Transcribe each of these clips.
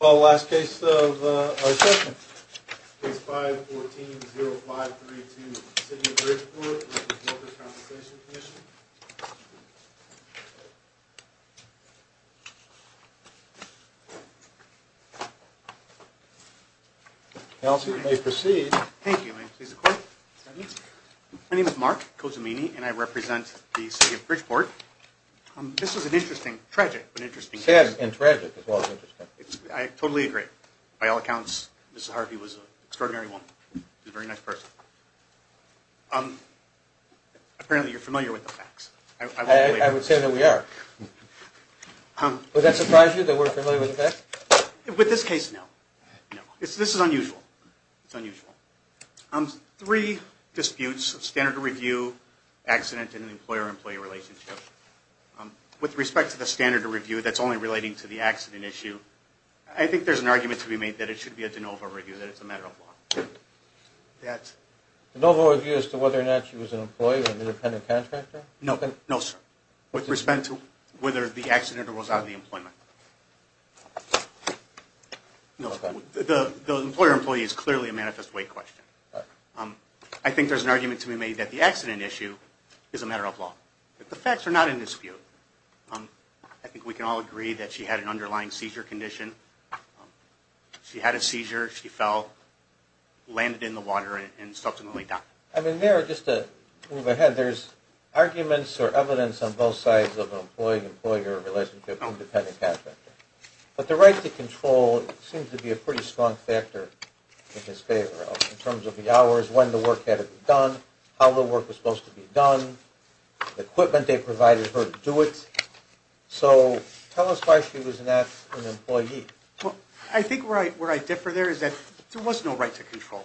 Well, last case of our session. Case 5-14-0532, City of Bridgeport v. Workers' Compensation Commission. Counselor, you may proceed. Thank you. May I please the court? My name is Mark Cozzamini, and I represent the City of Bridgeport. This is an interesting, tragic, but interesting case. Sad and tragic as well as interesting. I totally agree. By all accounts, Mrs. Harvey was an extraordinary woman. She was a very nice person. Apparently, you're familiar with the facts. I would say that we are. Would that surprise you that we're familiar with the facts? With this case, no. This is unusual. It's unusual. Three disputes, standard of review, accident, and an employer-employee relationship. With respect to the standard of review that's only relating to the accident issue, I think there's an argument to be made that it should be a de novo review, that it's a matter of law. De novo review as to whether or not she was an employee or an independent contractor? No, sir. With respect to whether the accident or was out of the employment. No, sir. The employer-employee is clearly a manifest way question. I think there's an argument to be made that the accident issue is a matter of law. But the facts are not in dispute. I think we can all agree that she had an underlying seizure condition. She had a seizure. She fell, landed in the water, and subsequently died. I mean, there, just to move ahead, there's arguments or evidence on both sides of an employee-employee relationship and independent contractor. But the right to control seems to be a pretty strong factor in his favor. In terms of the hours, when the work had to be done, how the work was supposed to be done, the equipment they provided her to do it. So, tell us why she was not an employee. Well, I think where I differ there is that there was no right to control.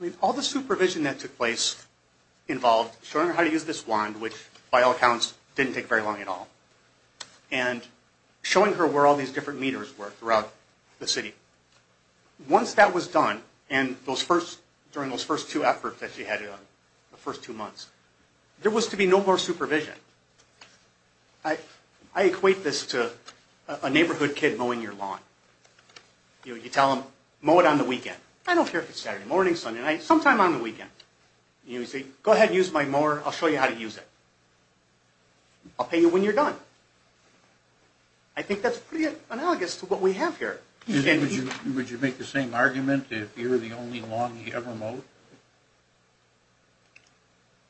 I mean, all the supervision that took place involved showing her how to use this wand, which, by all accounts, didn't take very long at all, and showing her where all these different meters were throughout the city. Once that was done, and during those first two efforts that she had done, the first two months, there was to be no more supervision. I equate this to a neighborhood kid mowing your lawn. You tell them, mow it on the weekend. I don't care if it's Saturday morning, Sunday night, sometime on the weekend. You say, go ahead and use my mower. I'll show you how to use it. I'll pay you when you're done. I think that's pretty analogous to what we have here. Would you make the same argument if you were the only lawn you ever mowed?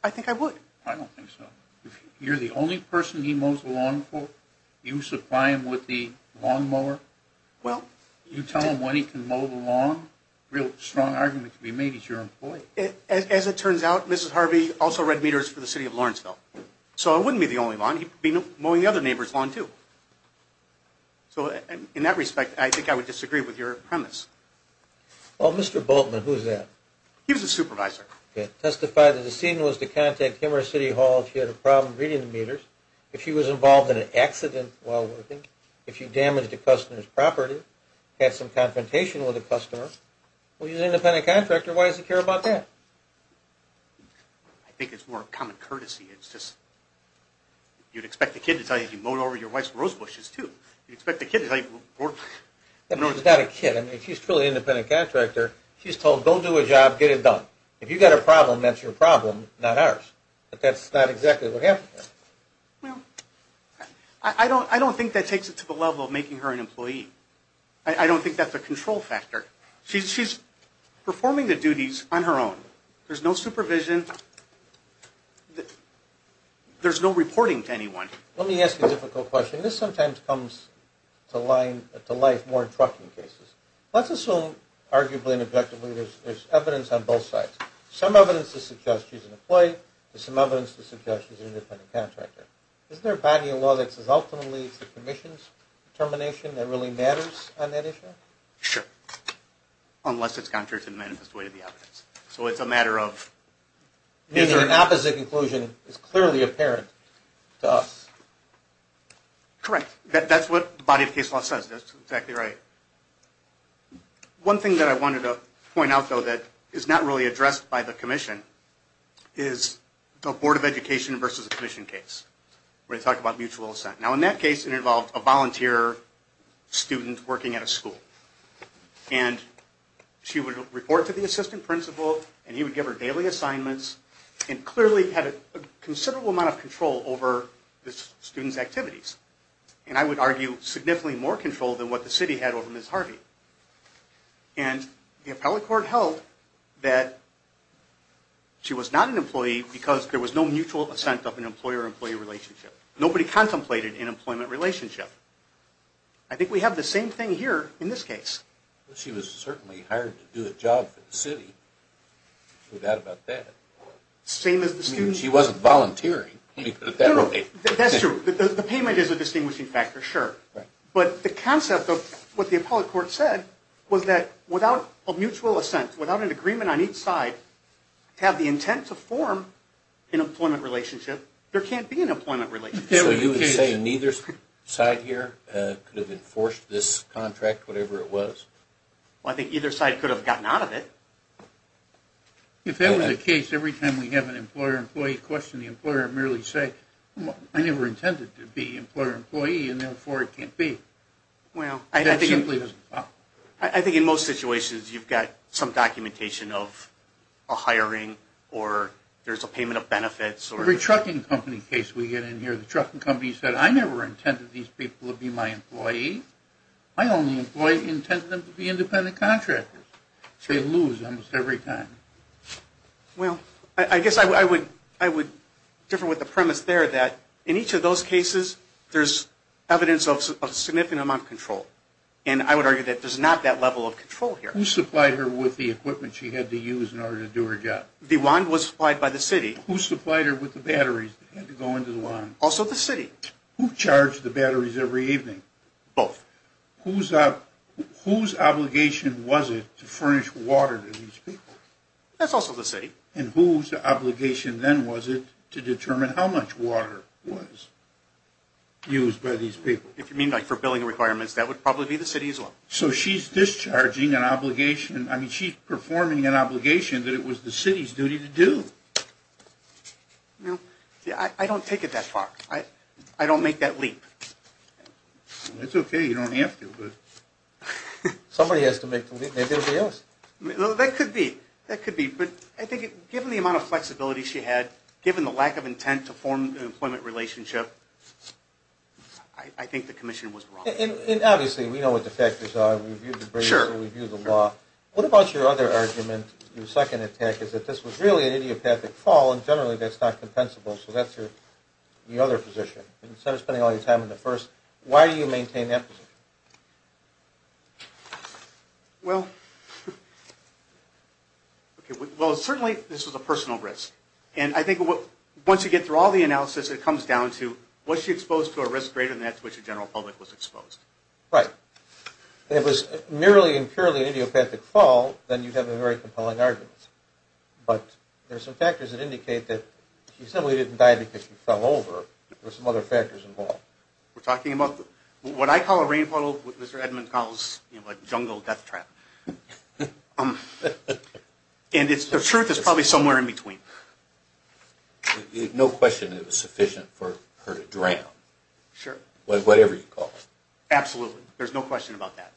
I think I would. I don't think so. If you're the only person he mows the lawn for, you supply him with the lawn mower? Well... You tell him when he can mow the lawn? Real strong argument to be made. He's your employee. As it turns out, Mrs. Harvey also read meters for the city of Lawrenceville. So it wouldn't be the only lawn. He'd be mowing the other neighbor's lawn, too. So in that respect, I think I would disagree with your premise. Well, Mr. Boltman, who's that? He was a supervisor. Testify that the scene was to contact him or City Hall if he had a problem reading the meters, if he was involved in an accident while working, if he damaged a customer's property, had some confrontation with a customer. Well, he's an independent contractor. Why does he care about that? I think it's more of common courtesy. It's just you'd expect the kid to tell you he mowed over your wife's rose bushes, too. You'd expect the kid to tell you... She's not a kid. I mean, she's a truly independent contractor. She's told, go do a job, get it done. If you've got a problem, that's your problem, not ours. But that's not exactly what happened there. Well, I don't think that takes it to the level of making her an employee. I don't think that's a control factor. She's performing the duties on her own. There's no supervision. There's no reporting to anyone. Let me ask you a difficult question. This sometimes comes to life more in trucking cases. Let's assume, arguably and objectively, there's evidence on both sides. Some evidence to suggest she's an employee. There's some evidence to suggest she's an independent contractor. Isn't there a body of law that says ultimately it's the commission's determination that really matters on that issue? Sure. Unless it's contrary to the manifest way of the evidence. So it's a matter of... The opposite conclusion is clearly apparent to us. Correct. That's what the body of case law says. That's exactly right. One thing that I wanted to point out, though, that is not really addressed by the commission, is the board of education versus the commission case, where they talk about mutual assent. Now, in that case, it involved a volunteer student working at a school. And she would report to the assistant principal, and he would give her daily assignments, and clearly had a considerable amount of control over the student's activities. And I would argue significantly more control than what the city had over Ms. Harvey. And the appellate court held that she was not an employee because there was no mutual assent of an employer-employee relationship. Nobody contemplated an employment relationship. I think we have the same thing here in this case. She was certainly hired to do a job for the city. There's no doubt about that. Same as the student. She wasn't volunteering. No, no, that's true. The payment is a distinguishing factor, sure. But the concept of what the appellate court said was that without a mutual assent, without an agreement on each side to have the intent to form an employment relationship, there can't be an employment relationship. So you would say neither side here could have enforced this contract, whatever it was? Well, I think either side could have gotten out of it. If that were the case, every time we have an employer-employee question, the employer would merely say, I never intended to be an employer-employee, and therefore it can't be. Well, I think in most situations you've got some documentation of a hiring or there's a payment of benefits. Every trucking company case we get in here, the trucking company said, I never intended these people to be my employee. My only employee intended them to be independent contractors. They lose almost every time. Well, I guess I would differ with the premise there that in each of those cases, there's evidence of a significant amount of control. And I would argue that there's not that level of control here. Who supplied her with the equipment she had to use in order to do her job? The wand was supplied by the city. Who supplied her with the batteries that had to go into the wand? Also the city. Who charged the batteries every evening? Both. Whose obligation was it to furnish water to these people? That's also the city. And whose obligation then was it to determine how much water was used by these people? If you mean like for billing requirements, that would probably be the city as well. So she's discharging an obligation. I mean, she's performing an obligation that it was the city's duty to do. I don't take it that far. I don't make that leap. That's okay. You don't have to. Somebody has to make the leap. Maybe it'll be us. That could be. That could be. But I think given the amount of flexibility she had, given the lack of intent to form an employment relationship, I think the commission was wrong. And obviously, we know what the factors are. We've reviewed the briefs. We've reviewed the law. What about your other argument, your second attack, is that this was really an idiopathic fall and generally that's not compensable. So that's your other position. Instead of spending all your time on the first, why do you maintain that position? Well, certainly this was a personal risk. And I think once you get through all the analysis, it comes down to was she exposed to a risk greater than that to which the general public was exposed. Right. If it was merely and purely an idiopathic fall, then you'd have a very compelling argument. But there are some factors that indicate that she simply didn't die because she fell over. There are some other factors involved. We're talking about what I call a rain puddle, what Mr. Edmond calls a jungle death trap. And the truth is probably somewhere in between. No question it was sufficient for her to drown. Sure. Whatever you call it. Absolutely. There's no question about that.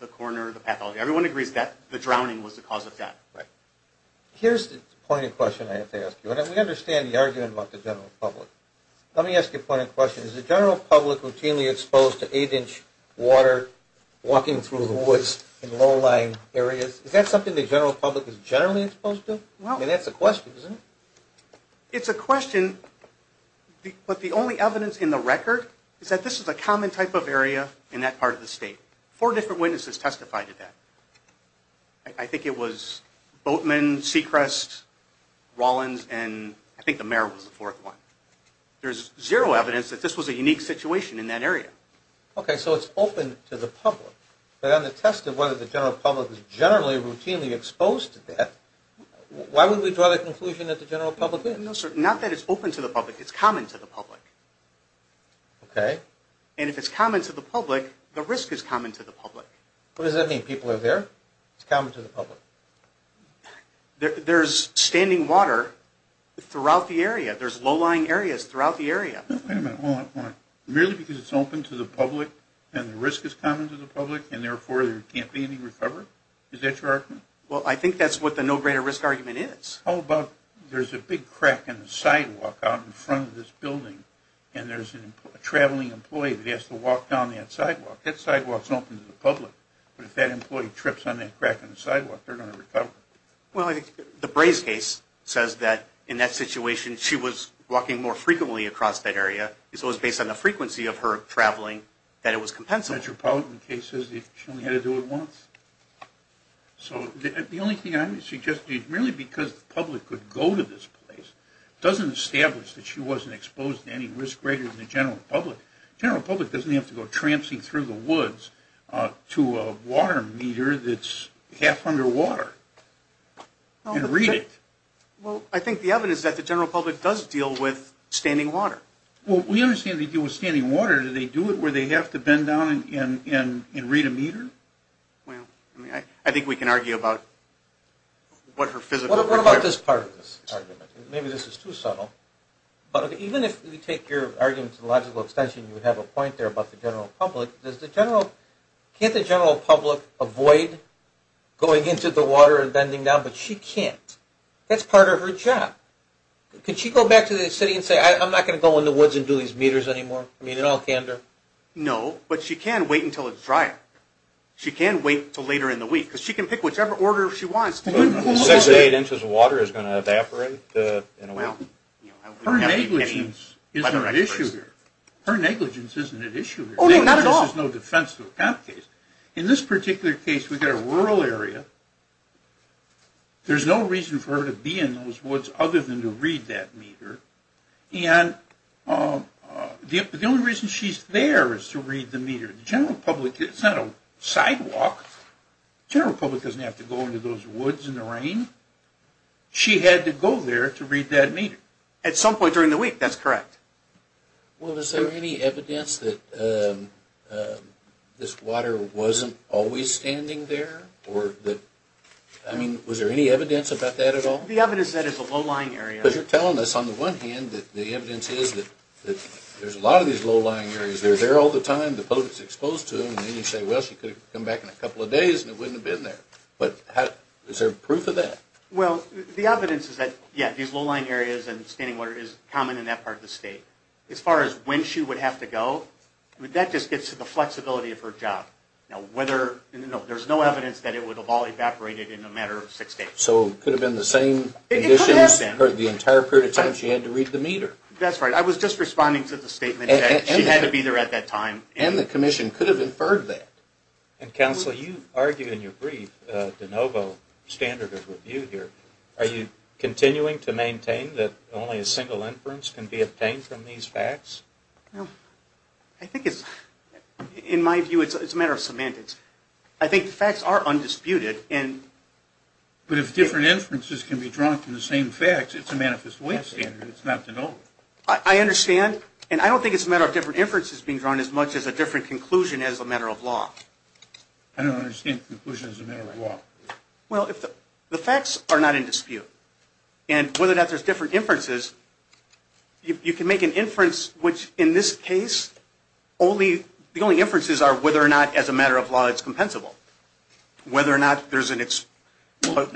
The coroner, the pathologist, everyone agrees that the drowning was the cause of death. Right. Here's the point of question I have to ask you, and we understand the argument about the general public. Let me ask you a point of question. Is the general public routinely exposed to 8-inch water walking through the woods in low-lying areas? Is that something the general public is generally exposed to? I mean, that's a question, isn't it? It's a question. But the only evidence in the record is that this is a common type of area in that part of the state. Four different witnesses testified to that. I think it was Boatman, Sechrest, Rollins, and I think the mayor was the fourth one. There's zero evidence that this was a unique situation in that area. Okay. So it's open to the public. But on the test of whether the general public is generally routinely exposed to death, why would we draw the conclusion that the general public is? Not that it's open to the public. It's common to the public. Okay. And if it's common to the public, the risk is common to the public. What does that mean? People are there? It's common to the public? There's standing water throughout the area. There's low-lying areas throughout the area. Wait a minute. Hold on. Merely because it's open to the public and the risk is common to the public and, therefore, there can't be any recovery? Is that your argument? Well, I think that's what the no greater risk argument is. How about there's a big crack in the sidewalk out in front of this building and there's a traveling employee that has to walk down that sidewalk. That sidewalk is open to the public. But if that employee trips on that crack in the sidewalk, they're going to recover. Well, the Brays case says that in that situation she was walking more frequently across that area. So it was based on the frequency of her traveling that it was compensable. The Metropolitan case says she only had to do it once. So the only thing I'm suggesting is merely because the public could go to this place doesn't establish that she wasn't exposed to any risk greater than the general public. The general public doesn't have to go tramping through the woods to a water meter that's half underwater and read it. Well, I think the evidence is that the general public does deal with standing water. Well, we understand they deal with standing water. Do they do it where they have to bend down and read a meter? Well, I think we can argue about what her physical requirement is. What about this part of this argument? Maybe this is too subtle. But even if we take your argument to the logical extension, you would have a point there about the general public. Can't the general public avoid going into the water and bending down? But she can't. That's part of her job. Could she go back to the city and say, I'm not going to go in the woods and do these meters anymore? I mean, in all candor? No, but she can wait until it's dry. She can wait until later in the week. Because she can pick whichever order she wants. Six or eight inches of water is going to evaporate in a week? Her negligence isn't at issue here. Her negligence isn't at issue here. Oh, not at all. In this particular case, we've got a rural area. And the only reason she's there is to read the meter. The general public, it's not a sidewalk. The general public doesn't have to go into those woods in the rain. She had to go there to read that meter. At some point during the week, that's correct. Well, is there any evidence that this water wasn't always standing there? I mean, was there any evidence about that at all? The evidence is that it's a low-lying area. Because you're telling us, on the one hand, that the evidence is that there's a lot of these low-lying areas. They're there all the time. The public is exposed to them. And then you say, well, she could have come back in a couple of days and it wouldn't have been there. But is there proof of that? Well, the evidence is that, yeah, these low-lying areas and standing water is common in that part of the state. As far as when she would have to go, that just gets to the flexibility of her job. There's no evidence that it would have all evaporated in a matter of six days. So it could have been the same conditions? The entire period of time she had to read the meter. That's right. I was just responding to the statement that she had to be there at that time. And the commission could have inferred that. Counsel, you argue in your brief, de novo standard of review here, are you continuing to maintain that only a single inference can be obtained from these facts? I think it's, in my view, it's a matter of semantics. I think the facts are undisputed. But if different inferences can be drawn from the same facts, it's a manifest way standard. It's not de novo. I understand. And I don't think it's a matter of different inferences being drawn as much as a different conclusion as a matter of law. I don't understand conclusion as a matter of law. Well, the facts are not in dispute. And whether or not there's different inferences, you can make an inference which, in this case, the only inferences are whether or not, as a matter of law, it's compensable. Whether or not there's a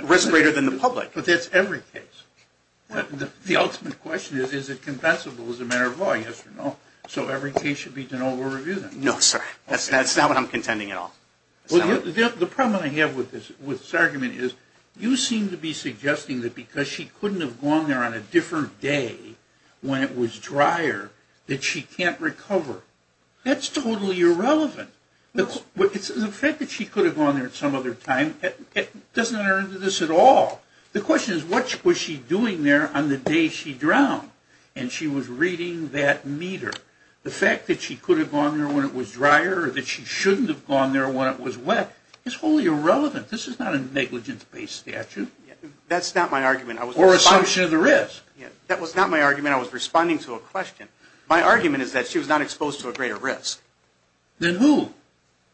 risk greater than the public. But that's every case. The ultimate question is, is it compensable as a matter of law? Yes or no. So every case should be de novo reviewed. No, sir. That's not what I'm contending at all. The problem I have with this argument is, you seem to be suggesting that because she couldn't have gone there on a different day when it was drier, that she can't recover. That's totally irrelevant. The fact that she could have gone there at some other time, it doesn't enter into this at all. The question is, what was she doing there on the day she drowned? And she was reading that meter. The fact that she could have gone there when it was drier or that she shouldn't have gone there when it was wet is wholly irrelevant. This is not a negligence-based statute. That's not my argument. Or assumption of the risk. That was not my argument. I was responding to a question. My argument is that she was not exposed to a greater risk. Then who?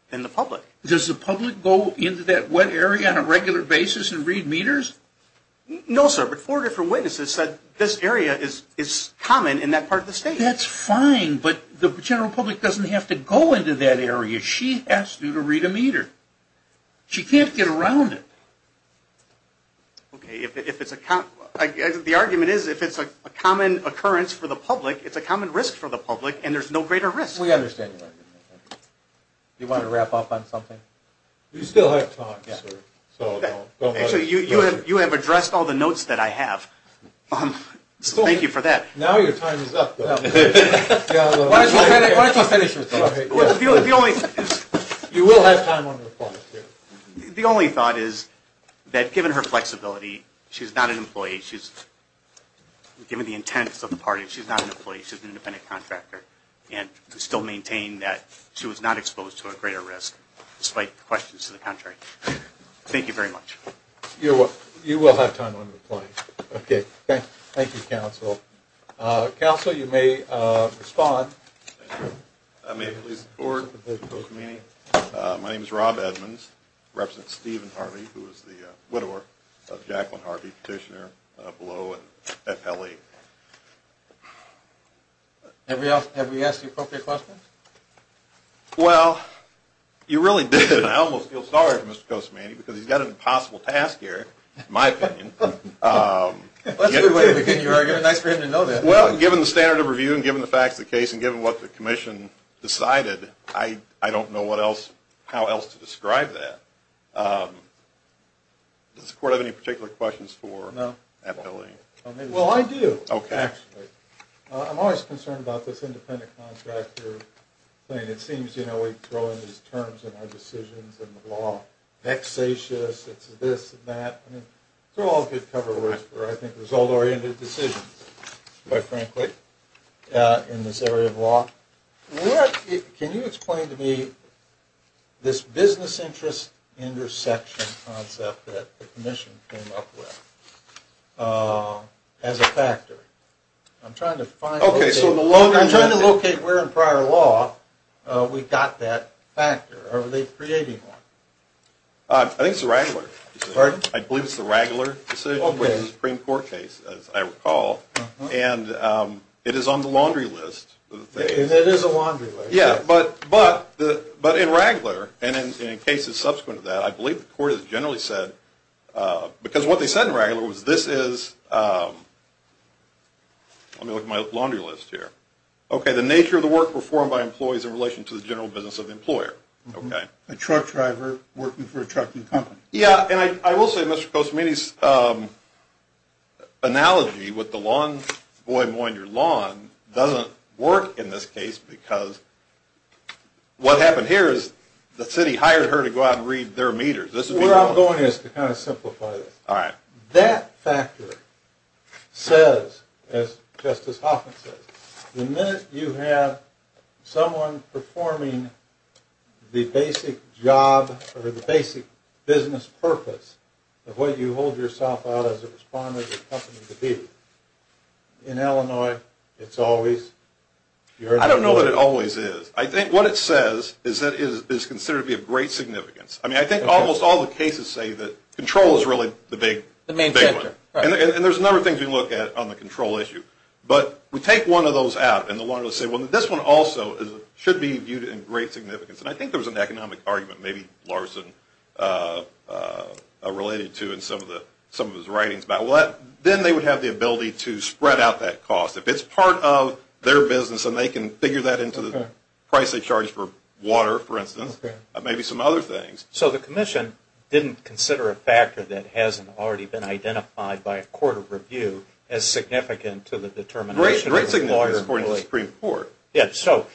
Then the public. Does the public go into that wet area on a regular basis and read meters? No, sir. But four different witnesses said this area is common in that part of the state. That's fine. But the general public doesn't have to go into that area. She has to read a meter. She can't get around it. Okay. The argument is, if it's a common occurrence for the public, it's a common risk for the public, and there's no greater risk. We understand your argument. Do you want to wrap up on something? We still have time, sir. Actually, you have addressed all the notes that I have. So thank you for that. Now your time is up, though. Why don't you finish with that? The only thought is that, given her flexibility, she's not an employee. Given the intents of the party, she's not an employee. She's an independent contractor, and we still maintain that she was not exposed to a greater risk, despite questions to the contrary. Thank you very much. You will have time on the plane. Okay. Thank you, counsel. Counsel, you may respond. May it please the Court. My name is Rob Edmonds. I represent Steve and Harvey, who is the widower of Jacqueline Harvey, petitioner below at L.A. Have we asked the appropriate questions? Well, you really did, and I almost feel sorry for Mr. Costomani because he's got an impossible task here, in my opinion. That's a good way to begin your argument. It's nice for him to know that. Well, given the standard of review and given the facts of the case and given what the commission decided, I don't know how else to describe that. Does the Court have any particular questions for Appellee? Well, I do, actually. I'm always concerned about this independent contractor thing. It seems, you know, we throw in these terms in our decisions and the law, vexatious, it's this and that. They're all good cover words for, I think, result-oriented decisions, quite frankly, in this area of law. Can you explain to me this business interest intersection concept that the commission came up with as a factor? I'm trying to locate where in prior law we got that factor. Are they creating one? I think it's the Ragler. Pardon? I believe it's the Ragler decision, which is a Supreme Court case, as I recall. It is on the laundry list. It is a laundry list. Yeah, but in Ragler, and in cases subsequent to that, I believe the Court has generally said, because what they said in Ragler was this is, let me look at my laundry list here, okay, the nature of the work performed by employees in relation to the general business of the employer. A truck driver working for a trucking company. Yeah, and I will say Mr. Cosimini's analogy with the lawn boy mowing your lawn doesn't work in this case because what happened here is the city hired her to go out and read their meters. Where I'm going is to kind of simplify this. All right. That factor says, as Justice Hoffman says, the minute you have someone performing the basic job or the basic business purpose of what you hold yourself out as a respondent or company to do, in Illinois, it's always your ability. I don't know that it always is. I think what it says is that it is considered to be of great significance. I mean, I think almost all the cases say that control is really the big one. The main center, right. And there's a number of things we look at on the control issue. But we take one of those out and say, well, this one also should be viewed in great significance. And I think there was an economic argument, maybe Larson related to in some of his writings about that. Then they would have the ability to spread out that cost. If it's part of their business and they can figure that into the price they charge for water, for instance, maybe some other things. So the commission didn't consider a factor that hasn't already been identified by a court of review as significant to the determination. Great significance according to the Supreme Court. Yes. So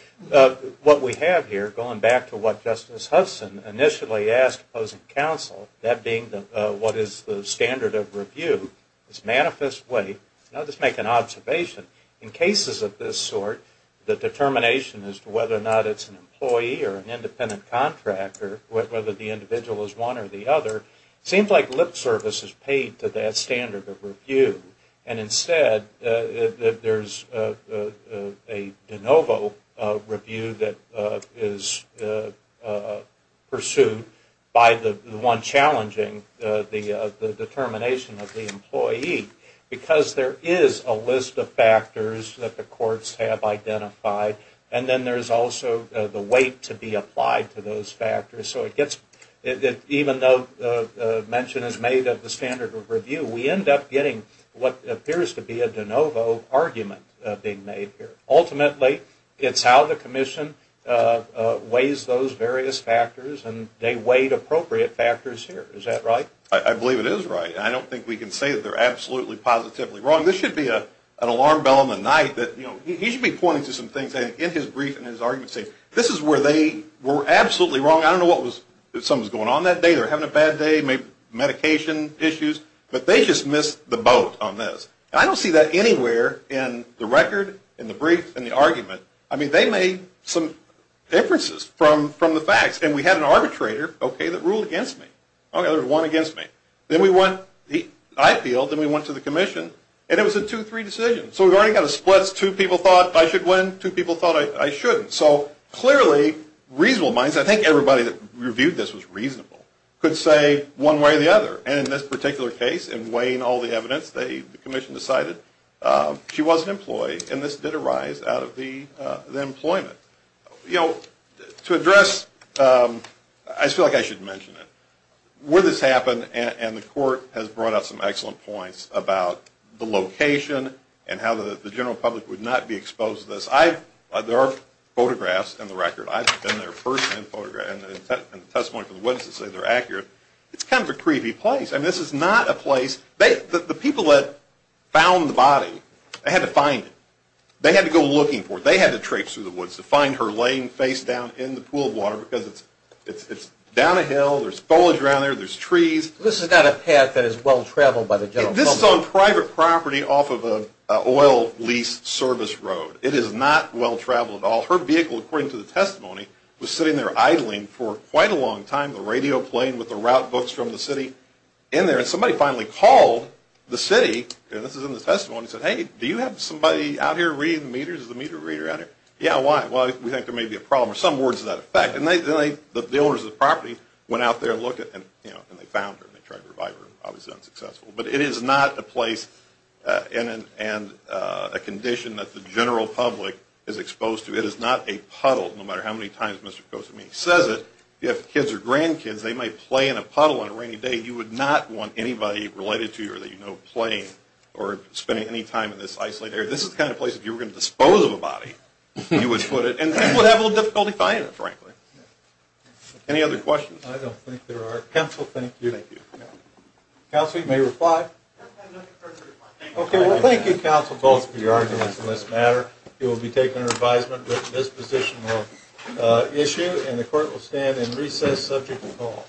what we have here, going back to what Justice Hudson initially asked opposing counsel, that being what is the standard of review, this manifest way, I'll just make an observation. In cases of this sort, the determination as to whether or not it's an employee or an independent contractor, whether the individual is one or the other, seems like lip service is paid to that standard of review. And instead, there's a de novo review that is pursued by the one challenging the determination of the employee. Because there is a list of factors that the courts have identified, and then there's also the weight to be applied to those factors. So it gets, even though mention is made of the standard of review, we end up getting what appears to be a de novo argument being made here. Ultimately, it's how the commission weighs those various factors, and they weighed appropriate factors here. Is that right? I believe it is right. I don't think we can say that they're absolutely positively wrong. This should be an alarm bell in the night that, you know, he should be pointing to some things in his brief and his arguments, saying this is where they were absolutely wrong. I don't know what was going on that day. They were having a bad day, maybe medication issues. But they just missed the boat on this. And I don't see that anywhere in the record, in the brief, in the argument. I mean, they made some differences from the facts. And we had an arbitrator, okay, that ruled against me. Okay, there was one against me. Then we went to the IPL. Then we went to the commission. And it was a two-three decision. So we've already got a split. Two people thought I should win. Two people thought I shouldn't. So clearly, reasonable minds, I think everybody that reviewed this was reasonable, could say one way or the other. And in this particular case, in weighing all the evidence, the commission decided she wasn't employed. And this did arise out of the employment. You know, to address, I feel like I should mention it. Where this happened, and the court has brought up some excellent points about the location and how the general public would not be exposed to this. There are photographs in the record. I've been there first and the testimony from the witnesses say they're accurate. It's kind of a creepy place. I mean, this is not a place. The people that found the body, they had to find it. They had to go looking for it. They had to traipse through the woods to find her laying face down in the pool of water because it's down a hill, there's foliage around there, there's trees. This is not a path that is well-traveled by the general public. This is on private property off of an oil lease service road. It is not well-traveled at all. Her vehicle, according to the testimony, was sitting there idling for quite a long time, the radio playing with the route books from the city in there. And somebody finally called the city, and this is in the testimony, and said, hey, do you have somebody out here reading the meters? Is the meter reader out here? Yeah, why? Well, we think there may be a problem, or some words to that effect. And the owners of the property went out there and looked, and they found her. They tried to revive her. Obviously unsuccessful. But it is not a place and a condition that the general public is exposed to. It is not a puddle, no matter how many times Mr. Kosofsky says it. If kids or grandkids, they might play in a puddle on a rainy day. You would not want anybody related to you or that you know playing or spending any time in this isolated area. This is the kind of place, if you were going to dispose of a body, you would put it. And people would have a little difficulty finding it, frankly. Any other questions? I don't think there are. Counsel, thank you. Thank you. Counsel, you may reply. I have nothing further to reply. Okay, well, thank you, counsel, both for your arguments on this matter. You will be taken under advisement with this positional issue, and the court will stand and recess subject to call.